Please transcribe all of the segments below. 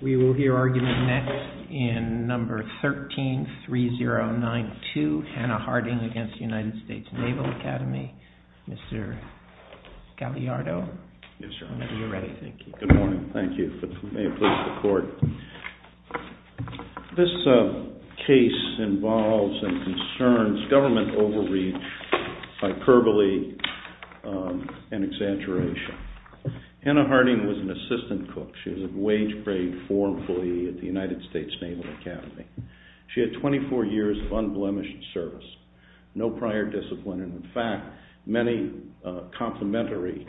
We will hear argument next in number 13-3. This case involves and concerns government overreach, hyperbole, and exaggeration. Hannah Harding was an assistant cook. She was a Wage Grade IV employee at the United States Naval Academy. She had 24 years of unblemished service, no prior discipline, and in fact many complimentary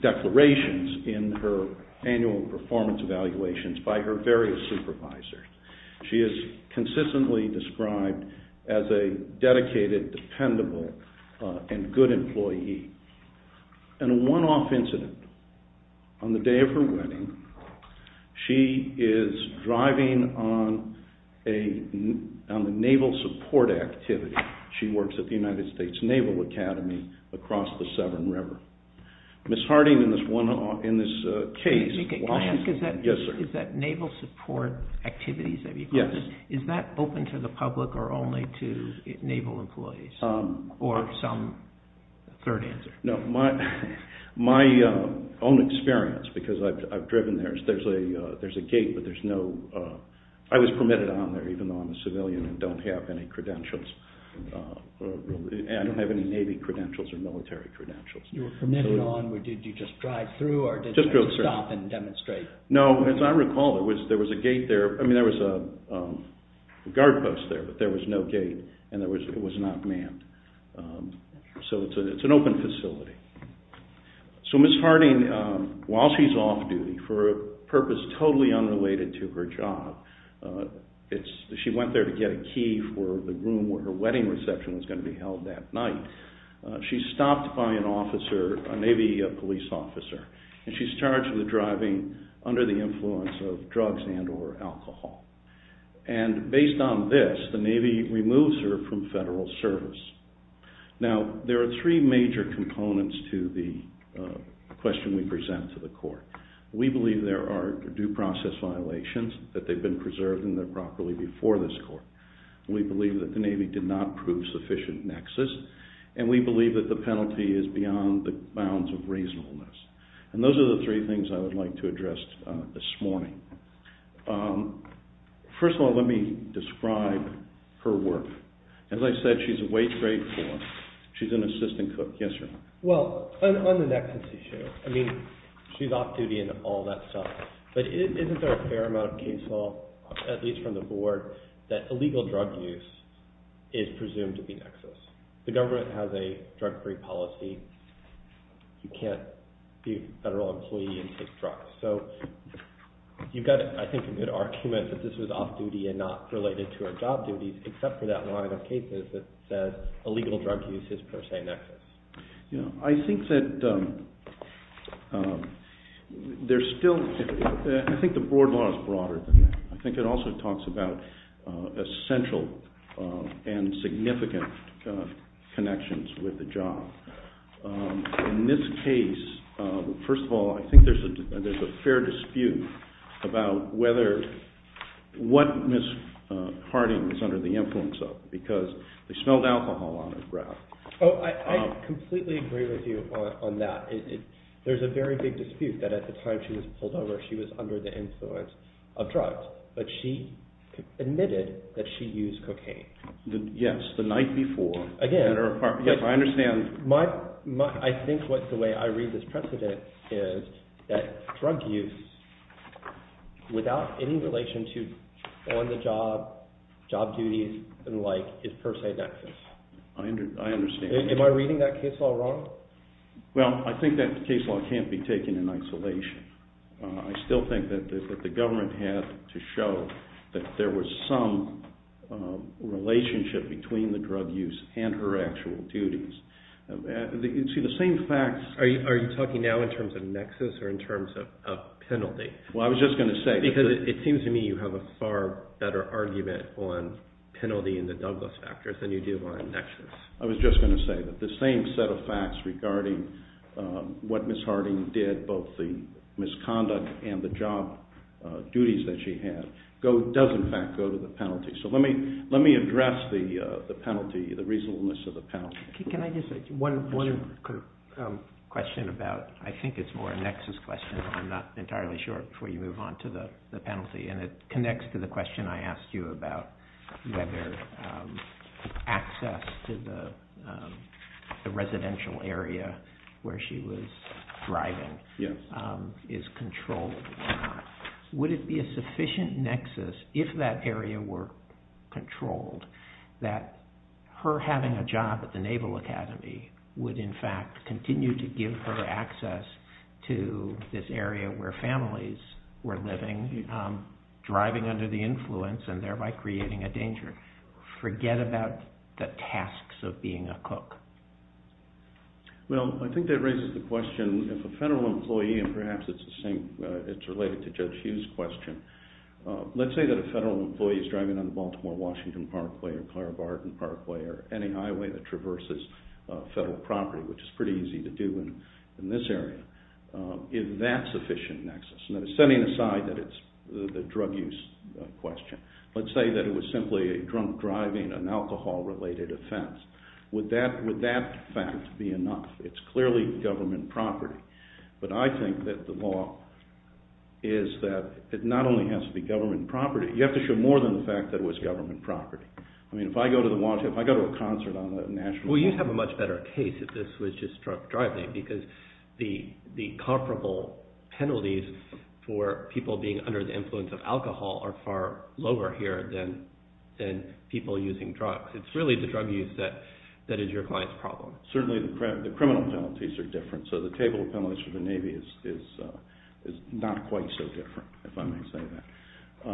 declarations in her annual performance evaluations by her various supervisors. She is consistently described as a dedicated, dependable, and good employee. In a one-off incident on the day of her wedding, she is driving on a naval support activity. She works at the United States Naval Academy across the Severn River. Ms. Harding in this case, while she's- Can I ask, is that naval support activities that you're talking about, is that open to the public or only to naval employees, or some third answer? No, my own experience, because I've driven there, is there's a gate, but there's no- I was permitted on there, even though I'm a civilian and don't have any credentials. I don't have any Navy credentials or military credentials. You were permitted on, did you just drive through or did you stop and demonstrate? No, as I recall, there was a gate there, I mean there was a guard post there, but there was no gate and it was not manned, so it's an open facility. So Ms. Harding, while she's off-duty for a purpose totally unrelated to her job, she went there to get a key for the room where her wedding reception was going to be held that night. She's stopped by an officer, a Navy police officer, and she's charged with driving under the influence of drugs and or alcohol. And based on this, the Navy removes her from federal service. Now, there are three major components to the question we present to the court. We believe there are due process violations, that they've been preserved and they're properly before this court. We believe that the Navy did not prove sufficient nexus and we believe that the penalty is beyond the bounds of reasonableness. And those are the three things I would like to address this morning. First of all, let me describe her work. As I said, she's a wage-paid clerk. She's an assistant cook. Yes, sir. Well, on the nexus issue, I mean, she's off-duty and all that stuff, but isn't there a fair amount of case law, at least from the board, that illegal drug use is presumed to be nexus? The government has a drug-free policy. You can't be a federal employee and take drugs. So, you've got, I think, a good argument that this was off-duty and not related to her job duties, except for that line of cases that says illegal drug use is per se nexus. You know, I think that there's still, I think the board law is broader than that. I think it also talks about essential and significant connections with the job. In this case, first of all, I think there's a fair dispute about whether, what Ms. Harding was under the influence of, because they smelled alcohol on her breath. Oh, I completely agree with you on that. There's a very big dispute that at the time she was pulled over, she was under the influence of drugs, but she admitted that she used cocaine. Yes, the night before. Again, I think the way I read this precedent is that drug use without any relation to on-the-job job duties and the like is per se nexus. I understand. Am I reading that case law wrong? Well, I think that case law can't be taken in isolation. I still think that the government had to show that there was some relationship between the drug use and her actual duties. You see, the same facts- Are you talking now in terms of nexus or in terms of penalty? Well, I was just going to say- Because it seems to me you have a far better argument on penalty in the Douglas factors than you do on nexus. I was just going to say that the same set of facts regarding what Ms. Harding did, both the misconduct and the job duties that she had, does in fact go to the penalty. So let me address the penalty, the reasonableness of the penalty. Can I just say one question about- I think it's more a nexus question. I'm not entirely sure before you move on to the penalty. And it connects to the question I asked you about whether access to the residential area where she was driving is controlled or not. Would it be a sufficient nexus, if that area were controlled, that her having a job at the Naval Academy would in fact continue to give her access to this area where families were living, driving under the influence and thereby creating a danger? Forget about the tasks of being a cook. Well, I think that raises the question, if a federal employee- it's related to Judge Hughes' question- let's say that a federal employee is driving on the Baltimore-Washington Parkway or Clara Barton Parkway or any highway that traverses federal property, which is pretty easy to do in this area. Is that sufficient nexus? And that is setting aside that it's the drug use question. Let's say that it was simply a drunk driving, an alcohol-related offense. Would that fact be enough? It's clearly government property. But I think that the law is that it not only has to be government property, you have to show more than the fact that it was government property. I mean, if I go to a concert on a national- Well, you'd have a much better case if this was just drunk driving because the comparable penalties for people being under the influence of alcohol are far lower here than people using drugs. It's really the drug use that is your client's problem. Certainly the criminal penalties are different. So the table of penalties for the Navy is not quite so different, if I may say that.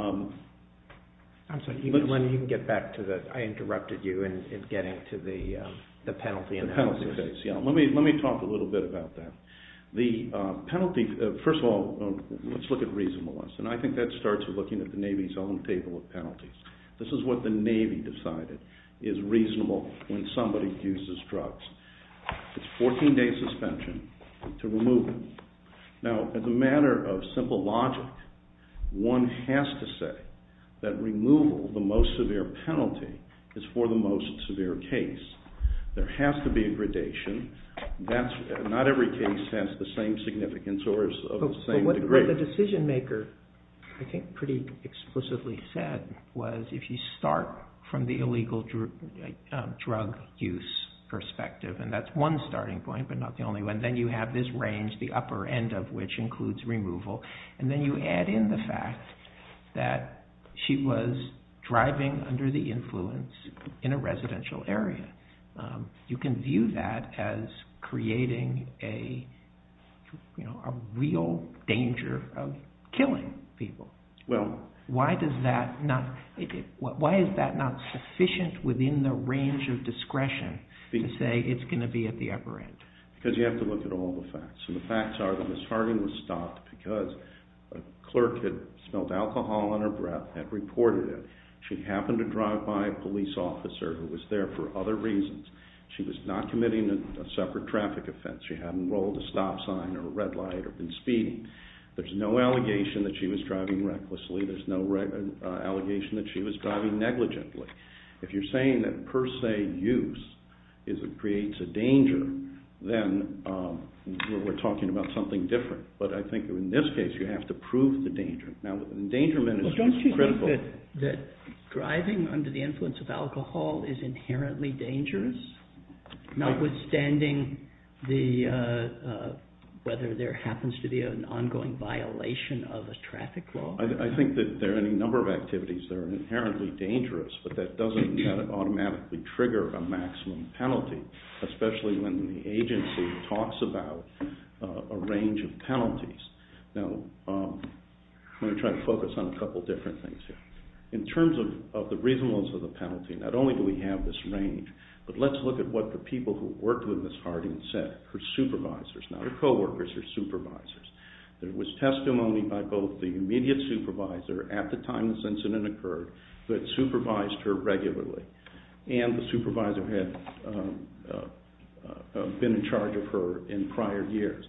I'm sorry, Lenny, you can get back to the- I interrupted you in getting to the penalty and the- The penalty case, yeah. Let me talk a little bit about that. The penalty- first of all, let's look at reasonableness. And I think that starts with looking at the Navy's own table of penalties. This is what the Navy decided is reasonable when somebody uses drugs. It's 14-day suspension to removal. Now, as a matter of simple logic, one has to say that removal, the most severe penalty, is for the most severe case. There has to be a gradation. That's- not every case has the same significance or is of the same degree. But what the decision-maker, I think, pretty explicitly said was, if you start from the illegal drug use perspective, and that's one starting point, but not the only one, then you have this range, the upper end of which includes removal. And then you add in the fact that she was driving under the influence in a residential area. You can view that as creating a real danger of killing people. Well, why does that not- why is that not sufficient within the range of discretion to say it's going to be at the upper end? Because you have to look at all the facts. And the facts are that Ms. Harding was stopped because a clerk had smelled alcohol on her breath, had reported it. She happened to drive by a police officer who was there for other reasons. She was not committing a separate traffic offense. She hadn't rolled a stop sign or a red light or been speeding. There's no allegation that she was driving recklessly. There's no allegation that she was driving negligently. If you're saying that per se use creates a danger, then we're talking about something different. But I think in this case, you have to prove the danger. Now, the endangerment is critical. Well, don't you think that driving under the influence of alcohol is inherently dangerous, notwithstanding whether there happens to be an ongoing violation of a traffic law? I think that there are any number of activities that are inherently dangerous, but that doesn't automatically trigger a maximum penalty, especially when the agency talks about a range of penalties. Now, I'm going to try to focus on a couple different things here. In terms of the reasonableness of the penalty, not only do we have this range, but let's look at what the people who worked with Ms. Smith and her supervisors, there was testimony by both the immediate supervisor at the time this incident occurred that supervised her regularly, and the supervisor had been in charge of her in prior years.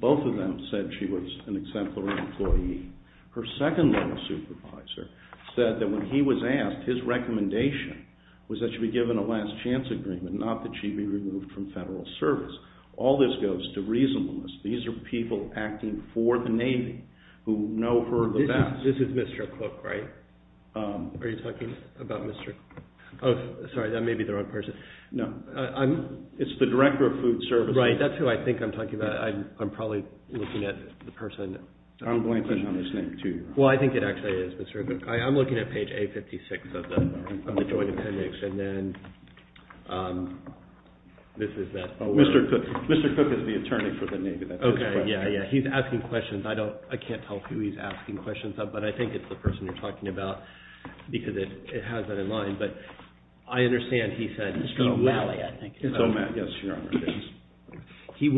Both of them said she was an exemplary employee. Her second level supervisor said that when he was asked, his recommendation was that she be given a last chance agreement, not that she be removed from federal service. All this goes to reasonableness. These are people acting for the Navy who know her the best. This is Mr. Cook, right? Are you talking about Mr. Cook? Oh, sorry, that may be the wrong person. No. It's the Director of Food Services. Right. That's who I think I'm talking about. I'm probably looking at the person. I'm blanking on his name, too. Well, I think it actually is Mr. Cook. I'm looking at page A56 of the Joint Appendix, and then this is that. Mr. Cook is the attorney for the Navy. That's his question. Okay. Yeah, yeah. He's asking questions. I can't tell who he's asking questions of, but I think it's the person you're talking about because it has that in mind, but I understand he said he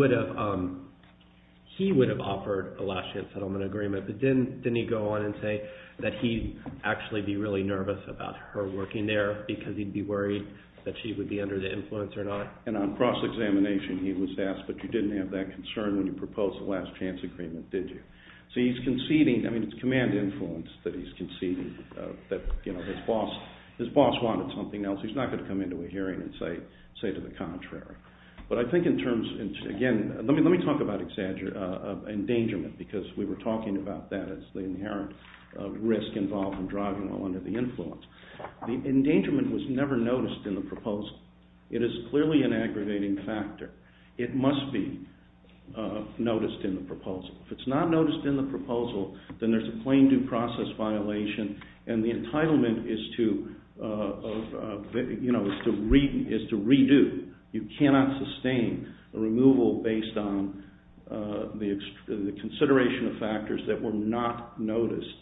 would have offered a last chance settlement agreement, but didn't he go on and say that he'd actually be really nervous about her working there because he'd be worried that she would be under the influence or not? And on cross-examination, he was asked, but you didn't have that concern when you proposed the last chance agreement, did you? So he's conceding. I mean, it's command influence that he's conceding that, you know, his boss wanted something else. He's not going to come into a hearing and say to the contrary. But I think in terms of, again, let me talk about endangerment because we were talking about that as the inherent risk involved in driving while under the influence. The endangerment was never noticed in the proposal. It is clearly an aggravating factor. It must be noticed in the proposal. If it's not noticed in the proposal, then there's a plain due process violation and the entitlement is to, you know, is to redo. You cannot sustain a removal based on the consideration of factors that were not noticed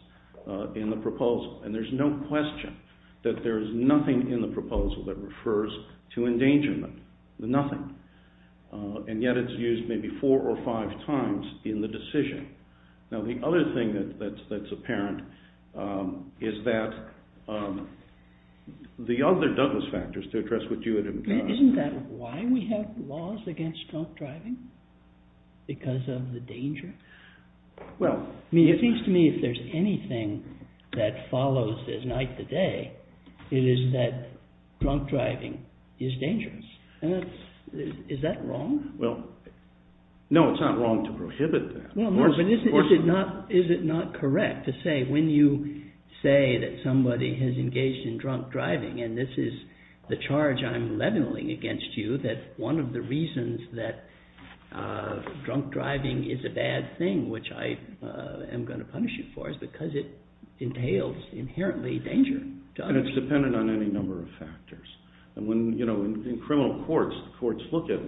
in the proposal. And there's no question that there's nothing in the proposal that refers to endangerment, nothing. And yet it's used maybe four or five times in the decision. Now, the other thing that's apparent is that the other Douglas factors to address what you had implied. Isn't that why we have laws against drunk driving? Because of the danger? Well, I mean, it seems to me if there's anything that follows this night to day, it is that drunk driving is dangerous. And that's, is that wrong? Well, no, it's not wrong to prohibit that. Well, no, but is it not correct to say when you say that somebody has engaged in drunk driving and this is the charge I'm leveling against you that one of the reasons that drunk driving is a bad thing, which I am going to punish you for, is because it entails inherently danger to others. And it's dependent on any number of factors. And when, you know, in criminal courts, the courts look at,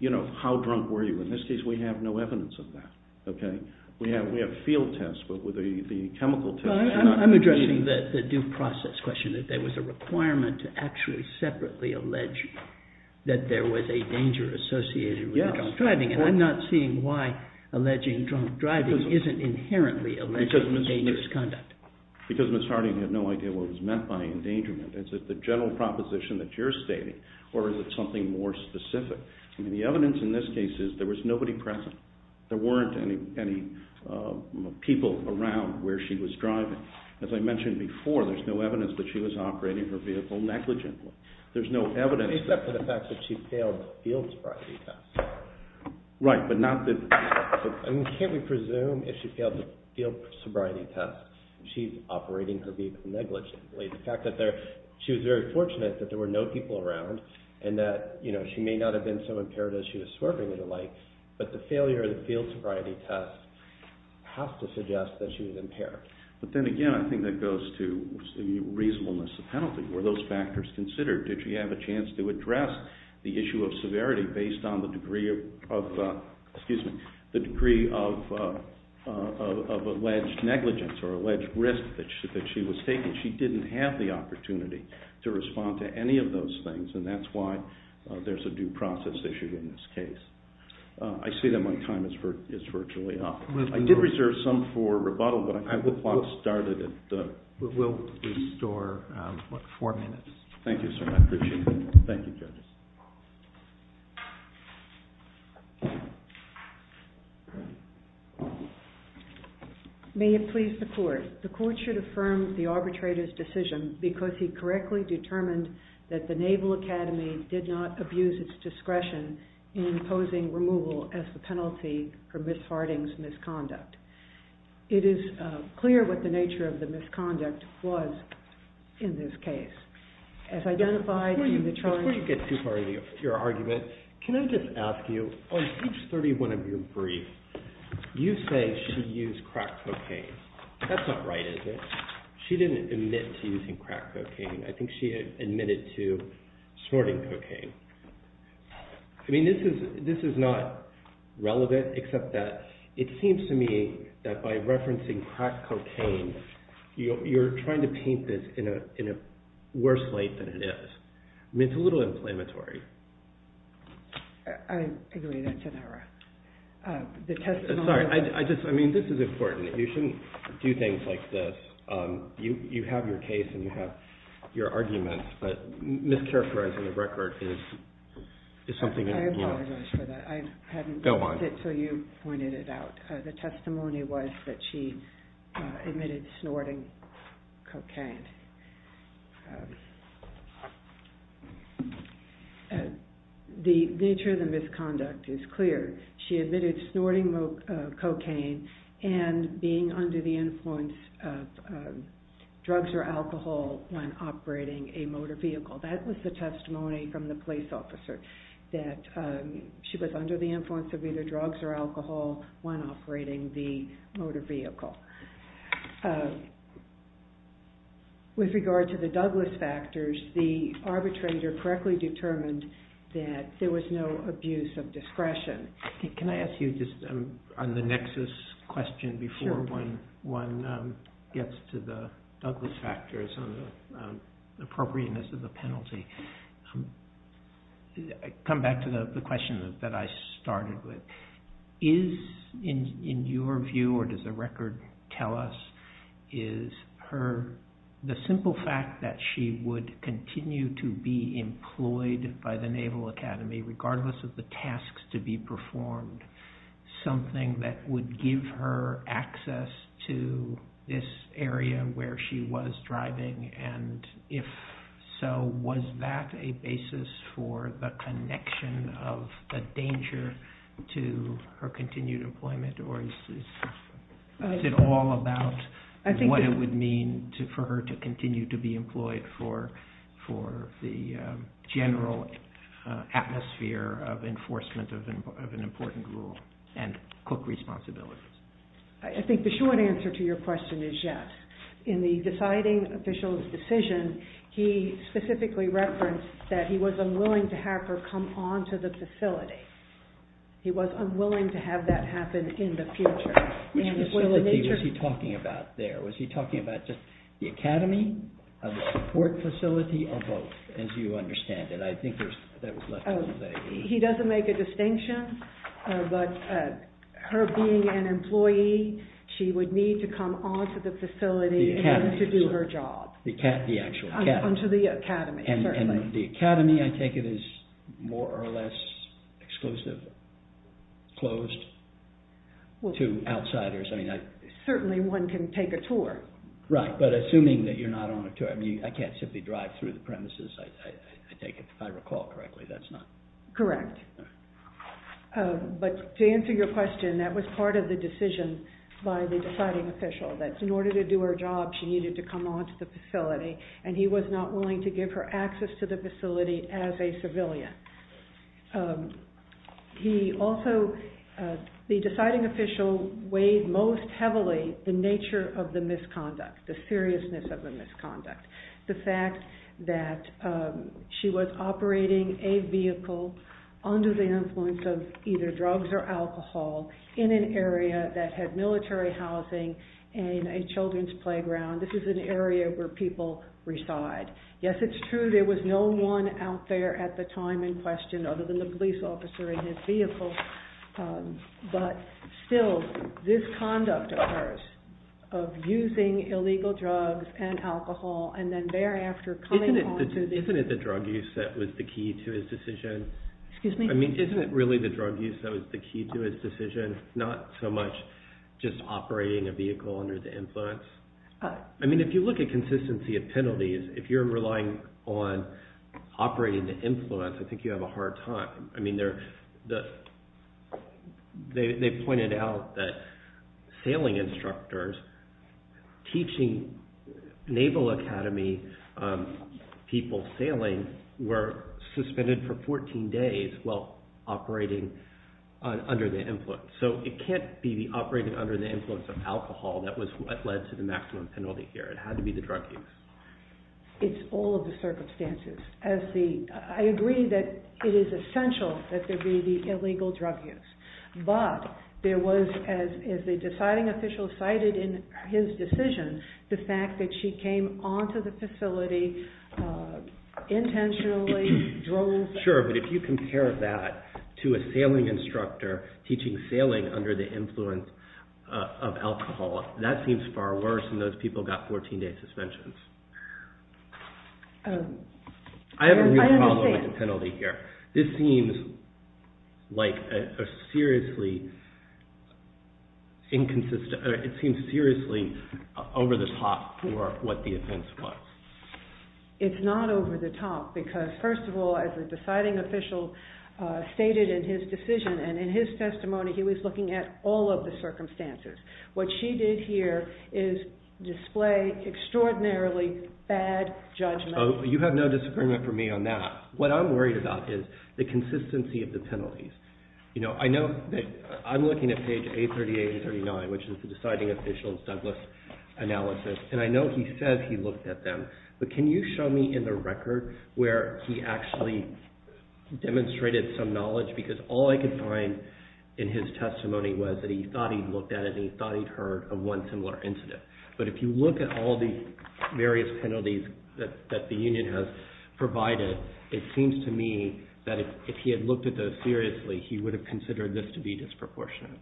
you know, how drunk were you? In this case, we have no evidence of that, okay? We have field tests, but with the chemical tests. Well, I'm addressing the due process question, that there was a requirement to actually separately allege that there was a danger associated with drunk driving. And I'm not seeing why alleging drunk driving isn't inherently a dangerous conduct. Because Ms. Harding had no idea what was meant by endangerment. Is it the general proposition that you're stating, or is it something more specific? I mean, the evidence in this case is there was nobody present. There weren't any people around where she was driving. As I mentioned before, there's no evidence that she was operating her vehicle negligently. There's no evidence. Except for the fact that she failed the field sobriety test. Right, but not that. I mean, can't we presume if she failed the field sobriety test, she's operating her vehicle negligently? The fact that she was very fortunate that there were no people around, and that, you know, she may not have been so impaired as she was swerving and the like. But the failure of the field sobriety test has to suggest that she was impaired. But then again, I think that goes to the reasonableness of penalty. Were those factors considered? Did she have a chance to address the issue of severity based on the degree of, excuse me, the degree of alleged negligence or alleged risk that she was taking? She didn't have the opportunity to respond to any of those things, and that's why there's a due process issue in this case. I say that my time is virtually up. I did reserve some for rebuttal, but I have the clock started at the... We'll restore, what, four minutes. Thank you, sir. I appreciate it. Thank you, judges. May it please the court. The court should affirm the arbitrator's decision because he correctly determined that the Naval Academy did not abuse its discretion in imposing removal as the penalty for Ms. Harding's misconduct. It is clear what the nature of the misconduct was in this case. As identified in the charge... Before you get too far into your argument, can I just ask you, on page 31 of your brief, you say she used crack cocaine. That's not right, is it? She didn't admit to using crack cocaine. I think she admitted to snorting cocaine. I mean, this is not relevant, except that it seems to me that by referencing crack cocaine, you're trying to paint this in a worse light than it is. I mean, it's a little inflammatory. I agree that's an error. Sorry, I just... I mean, this is important. You shouldn't do things like this. You have your case and you have your arguments, but mischaracterizing the record is something that... I apologize for that. I hadn't noticed it until you pointed it out. The testimony was that she admitted snorting cocaine. The nature of the misconduct is clear. She admitted snorting cocaine and being under the influence of drugs or alcohol when operating a motor vehicle. That was the testimony from the police officer, that she was under the influence of either drugs or alcohol when operating the motor vehicle. With regard to the Douglas factors, the arbitrator correctly determined that there was no abuse of discretion. Can I ask you just on the nexus question before one gets to the Douglas factors on the appropriateness of the penalty? Come back to the question that I started with. Is, in your view, or does the record tell us, is the simple fact that she would continue to be employed by the Naval Academy, regardless of the tasks to be performed, something that would give her access to this area where she was driving? And if so, was that a basis for the connection of the danger to her continued employment? Or is it all about what it would mean for her to continue to be employed for the general atmosphere of enforcement of an important rule and cook responsibilities? I think the short answer to your question is yes. In the deciding official's decision, he specifically referenced that he was unwilling to have her come onto the facility. He was unwilling to have that happen in the future. Which facility was he talking about there? Was he talking about the Academy, the support facility, or both? As you understand it, I think that was left out of the way. He doesn't make a distinction, but her being an employee, she would need to come onto the facility to do her job. The actual Academy. Onto the Academy, certainly. And the Academy, I take it, is more or less exclusive, closed to outsiders. Certainly, one can take a tour. Right, but assuming that you're not on a tour. I can't simply drive through the premises, I take it, if I recall correctly. That's not. Correct. But to answer your question, that was part of the decision by the deciding official, that in order to do her job, she needed to come onto the facility. And he was not willing to give her access to the facility as a civilian. He also, the deciding official weighed most heavily the nature of the misconduct, the seriousness of the misconduct. The fact that she was operating a vehicle under the influence of either drugs or alcohol in an area that had military housing and a children's playground. This is an area where people reside. Yes, it's true, there was no one out there at the time in question, other than the police officer in his vehicle. But still, this conduct occurs of using illegal drugs and alcohol, and then thereafter coming onto the- Isn't it the drug use that was the key to his decision? Excuse me? I mean, isn't it really the drug use that was the key to his decision, not so much just operating a vehicle under the influence? I mean, if you look at consistency of penalties, if you're relying on operating to influence, I think you have a hard time. I mean, they pointed out that sailing instructors teaching Naval Academy people sailing were suspended for 14 days while operating under the influence. So it can't be the operating under the influence of alcohol that led to the maximum penalty here. It had to be the drug use. It's all of the circumstances. I agree that it is essential that there be the illegal drug use. But there was, as the deciding official cited in his decision, the fact that she came onto the facility intentionally, drove- Sure, but if you compare that to a sailing instructor teaching sailing under the influence of alcohol, that seems far worse, and those people got 14-day suspensions. I have a real problem with the penalty here. This seems like a seriously inconsistent- it seems seriously over the top for what the offense was. It's not over the top, because first of all, as the deciding official stated in his decision and in his testimony, he was looking at all of the circumstances. What she did here is display extraordinarily bad judgment. You have no disagreement for me on that. What I'm worried about is the consistency of the penalties. I know that I'm looking at page 838 and 839, which is the deciding official's Douglas analysis, and I know he said he looked at them. But can you show me in the record where he actually demonstrated some knowledge? Because all I could find in his testimony was that he thought he'd looked at it and he thought he'd heard of one similar incident. But if you look at all the various penalties that the union has provided, it seems to me that if he had looked at those seriously, he would have considered this to be disproportionate.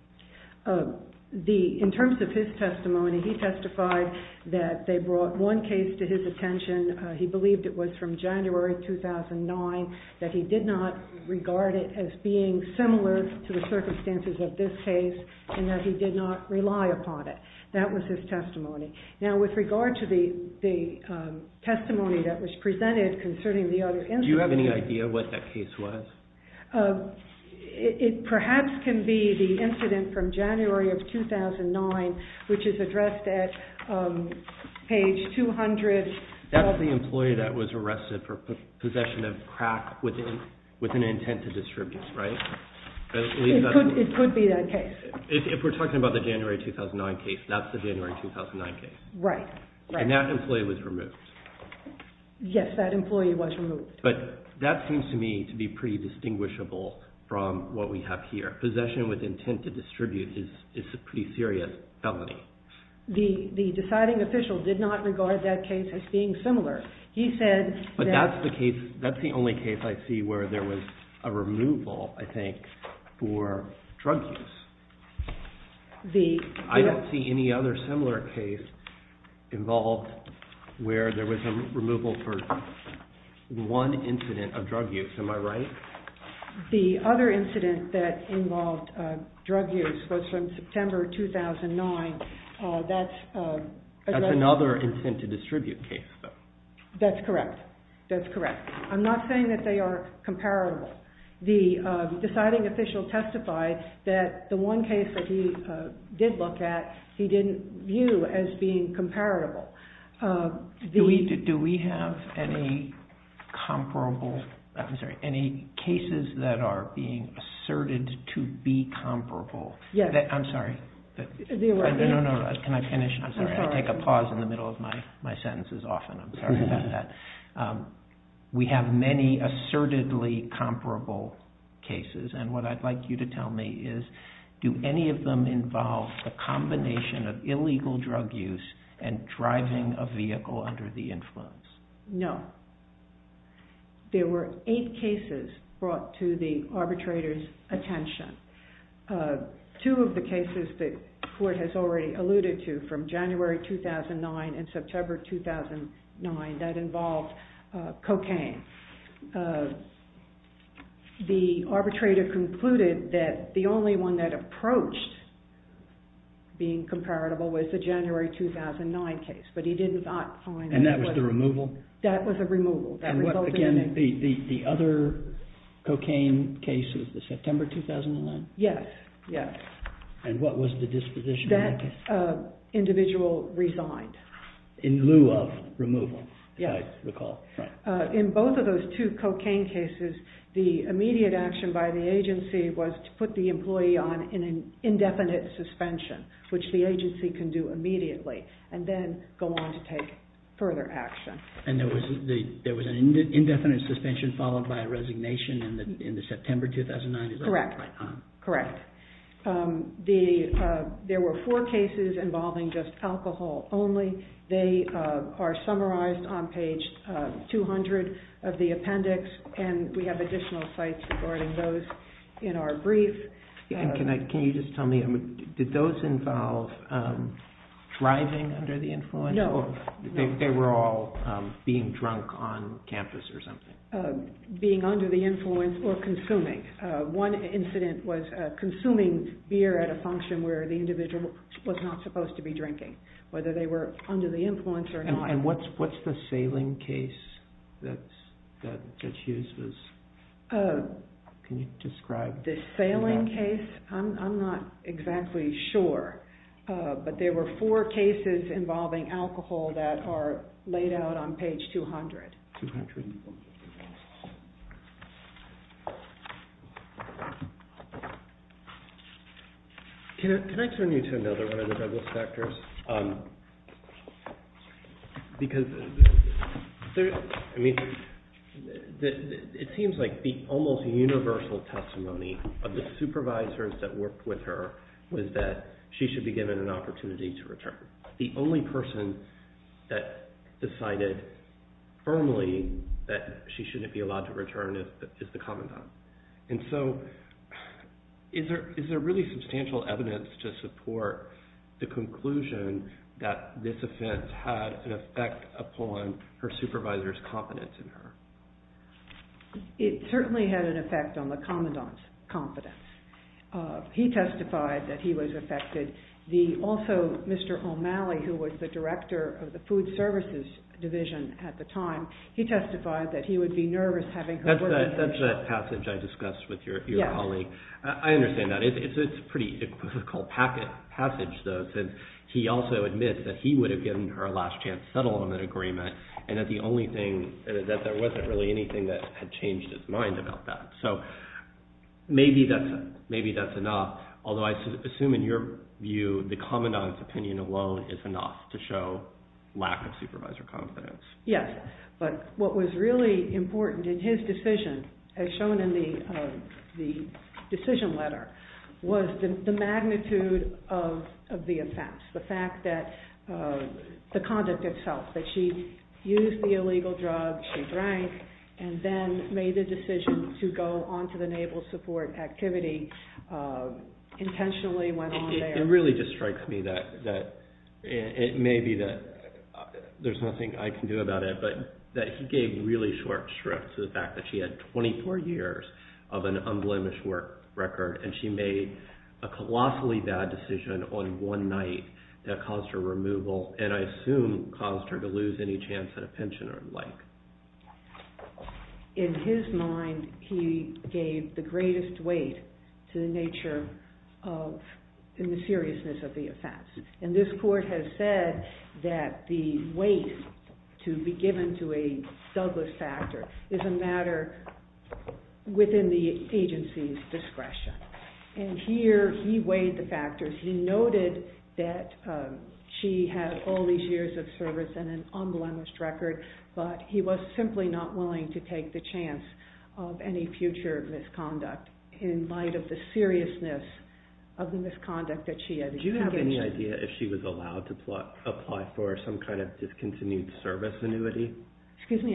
In terms of his testimony, he testified that they brought one case to his attention. He believed it was from January 2009, that he did not regard it as being similar to the circumstances of this case, and that he did not rely upon it. That was his testimony. Now with regard to the testimony that was presented concerning the other incident. Do you have any idea what that case was? It perhaps can be the incident from January of 2009, which is addressed at page 200. That's the employee that was arrested for possession of crack with an intent to distribute, right? It could be that case. If we're talking about the January 2009 case, that's the January 2009 case. Right. And that employee was removed. Yes, that employee was removed. But that seems to me to be pretty distinguishable from what we have here. Possession with intent to distribute is a pretty serious felony. The deciding official did not regard that case as being similar. He said that. But that's the case. That's the only case I see where there was a removal, I think, for drug use. I don't see any other similar case involved where there was a removal for one incident of drug use. Am I right? The other incident that involved drug use was from September 2009. That's a drug use. That's another intent to distribute case, though. That's correct. That's correct. I'm not saying that they are comparable. The deciding official testified that the one case that he did look at, he didn't view as being comparable. Do we have any comparable, I'm sorry, any cases that are being asserted to be comparable? Yes. I'm sorry. The award. No, no, no. Can I finish? I'm sorry. I take a pause in the middle of my sentences often. I'm sorry about that. We have many assertedly comparable cases. And what I'd like you to tell me is, do any of them involve a combination of illegal drug use and driving a vehicle under the influence? No. There were eight cases brought to the arbitrator's attention. Two of the cases that the court has already alluded to from January 2009 and September 2009, that involved cocaine. The arbitrator concluded that the only one that approached being comparable was the January 2009 case. But he did not find that it was. And that was the removal? That was a removal. That resulted in a. And what, again, the other cocaine case was the September 2009? Yes. Yes. And what was the disposition of that case? In lieu of removal, as I recall. Right. In both of those cases, it was a removal. In both of those two cocaine cases, the immediate action by the agency was to put the employee on an indefinite suspension, which the agency can do immediately, and then go on to take further action. And there was an indefinite suspension followed by a resignation in the September 2009? Correct. Correct. There were four cases involving just alcohol only. They are summarized on page 200 of the appendix. And we have additional sites regarding those in our brief. Can you just tell me, did those involve driving under the influence? No. They were all being drunk on campus or something? Being under the influence or consuming. One incident was consuming beer at a function where the individual was not supposed to be drinking, whether they were under the influence or not. And what's the sailing case that Hughes was describing? The sailing case? I'm not exactly sure. But there were four cases involving alcohol that are laid out on page 200. 200. Thank you. Can I turn you to another one of the double specters? It seems like the almost universal testimony of the supervisors that worked with her was that she should be given an opportunity to return. The only person that decided firmly that she shouldn't be allowed to return is the commandant. And so is there really substantial evidence to support the conclusion that this offense had an effect upon her supervisor's confidence in her? It certainly had an effect on the commandant's confidence. He testified that he was affected. Also, Mr. O'Malley, who was the director of the food services division at the time, he testified that he would be nervous having her working for him. That's that passage I discussed with your colleague. I understand that. It's a pretty equivocal passage, though, since he also admits that he would have given her a last chance settlement agreement, and that the only thing is that there wasn't really anything that had changed his mind about that. So maybe that's enough. Although, I assume in your view, the commandant's opinion alone is enough to show lack of supervisor confidence. Yes. But what was really important in his decision, as shown in the decision letter, was the magnitude of the offense. The fact that the conduct itself, that she used the illegal drug, she drank, and then made the decision to go onto the Naval Support Activity, intentionally went on there. It really just strikes me that it may be that there's nothing I can do about it, but that he gave really short shrifts to the fact that she had 24 years of an unblemished work record, and she made a colossally bad decision on one night that caused her removal, and I assume caused her to lose any chance at a pension or the like. In his mind, he gave the greatest weight to the nature and the seriousness of the offense. And this court has said that the weight to be given to a Douglas factor is a matter within the agency's discretion. And here, he weighed the factors. He noted that she had all these years of service and an unblemished record, but he was simply not willing to take the chance of any future misconduct in light of the seriousness of the misconduct that she had. Do you have any idea if she was allowed to apply for some kind of discontinued service annuity? Excuse me?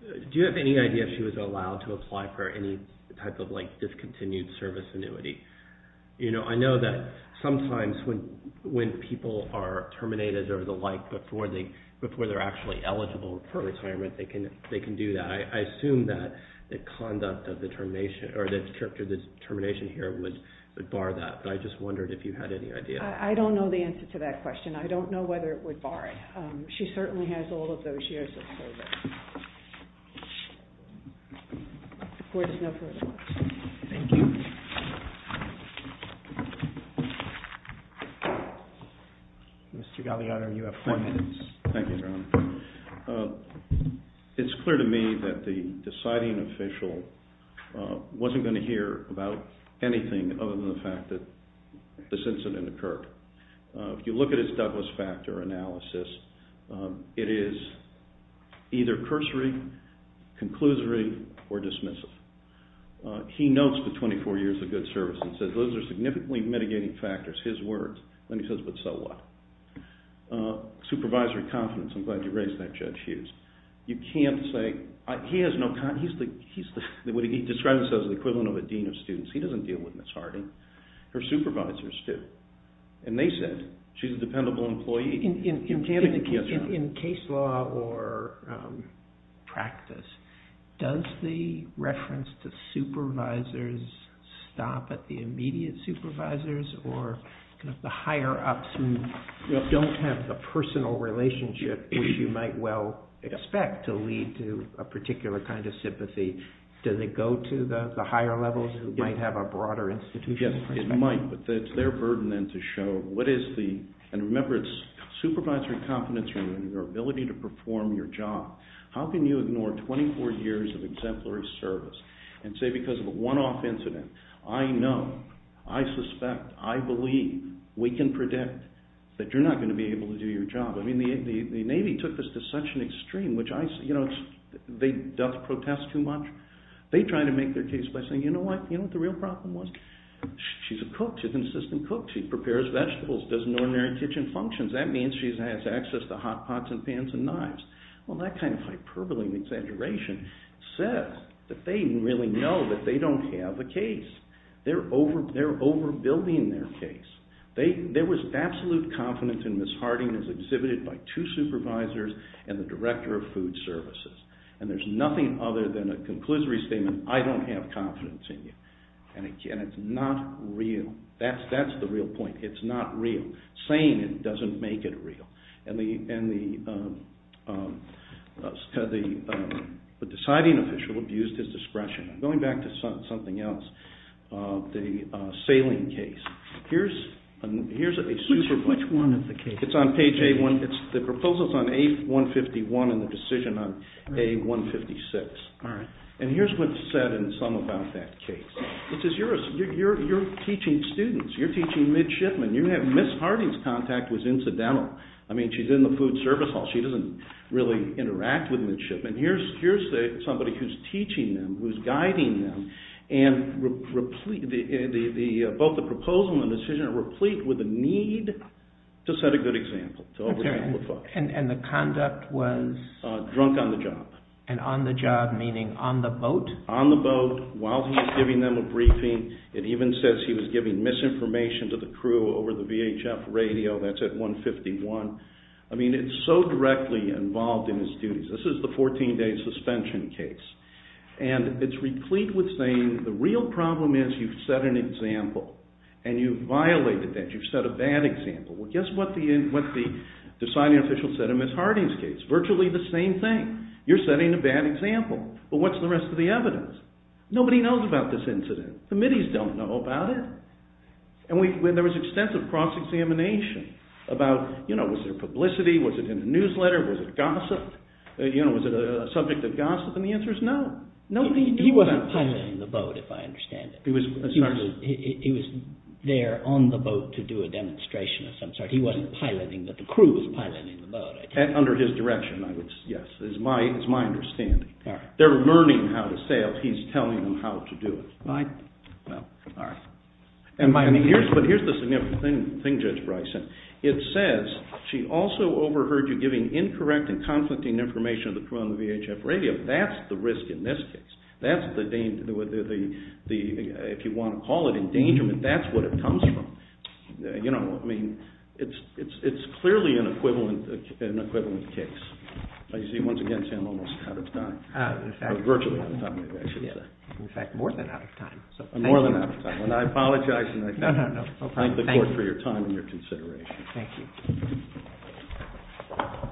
Do you have any idea if she was allowed to apply for any type of discontinued service annuity? I know that sometimes when people are terminated or the like, before they're actually eligible for retirement, they can do that. I assume that the conduct of the termination or the termination here would bar that, but I just wondered if you had any idea. I don't know the answer to that question. I don't know whether it would bar it. She certainly has all of those years of service. Court is no further. Thank you. Thank you. Mr. Galeano, you have four minutes. Thank you, Your Honor. It's clear to me that the deciding official wasn't going to hear about anything other than the fact that this incident occurred. If you look at his Douglas Factor analysis, it is either cursory, conclusory, or dismissive. He notes the 24 years of good service and says those are significantly mitigating factors, his words. Then he says, but so what? Supervisory confidence, I'm glad you raised that, Judge Hughes. You can't say, he has no confidence. He describes this as the equivalent of a dean of students. He doesn't deal with Ms. Harding. Her supervisors do. And they said, she's a dependable employee. In case law or practice, does the reference to supervisors stop at the immediate supervisors or the higher-ups who don't have the personal relationship which you might well expect to lead to a particular kind of sympathy? Does it go to the higher levels who might have a broader institutional perspective? It might, but it's their burden then to show what is the, and remember, it's supervisory confidence and your ability to perform your job. How can you ignore 24 years of exemplary service and say, because of a one-off incident, I know, I suspect, I believe, we can predict that you're not going to be able to do your job? The Navy took this to such an extreme, which I say, they don't protest too much. They try to make their case by saying, you know what? You know what the real problem was? She's a cook. She's an assistant cook. She prepares vegetables. Does an ordinary kitchen functions. That means she has access to hot pots and pans and knives. Well, that kind of hyperbole and exaggeration says that they don't really know that they don't have a case. They're overbuilding their case. There was absolute confidence in Ms. Harding as exhibited by two supervisors and the director of food services. And there's nothing other than a conclusory statement, I don't have confidence in you. And again, it's not real. That's the real point. It's not real. Saying it doesn't make it real. And the deciding official abused his discretion. Going back to something else, the sailing case. Here's a super point. Which one of the cases? It's on page A1. The proposal's on A151 and the decision on A156. And here's what's said in some about that case. Which is, you're teaching students. You're teaching midshipmen. You have Ms. Harding's contact was incidental. I mean, she's in the food service hall. She doesn't really interact with midshipmen. Here's somebody who's teaching them, who's guiding them. And both the proposal and the decision are replete with the need to set a good example. And the conduct was? Drunk on the job. And on the job meaning on the boat? On the boat, while he was giving them a briefing. It even says he was giving misinformation to the crew over the VHF radio. That's at 151. I mean, it's so directly involved in his duties. This is the 14-day suspension case. And it's replete with saying, the real problem is you've set an example. And you've violated that. You've set a bad example. Well, guess what the deciding official said in Ms. Harding's case? Virtually the same thing. You're setting a bad example. But what's the rest of the evidence? Nobody knows about this incident. The middies don't know about it. And there was extensive cross-examination about, was there publicity? Was it in the newsletter? Was it gossip? Was it a subject of gossip? And the answer is no. Nobody knew about it. He wasn't piloting the boat, if I understand it. He was there on the boat to do a demonstration of some sort. He wasn't piloting, but the crew was piloting the boat. Under his direction, yes. It's my understanding. They're learning how to sail. He's telling them how to do it. Well, all right. But here's the significant thing, Judge Bryson. It says, she also overheard you giving incorrect and conflicting information to the crew on the VHF radio. That's the risk in this case. That's the, if you want to call it endangerment, that's what it comes from. It's clearly an equivalent case. You see, once again, Sam, almost out of time. Virtually out of time, maybe I should say. In fact, more than out of time. More than out of time. And I apologize. No, no, no. Thank the court for your time and your consideration. Thank you.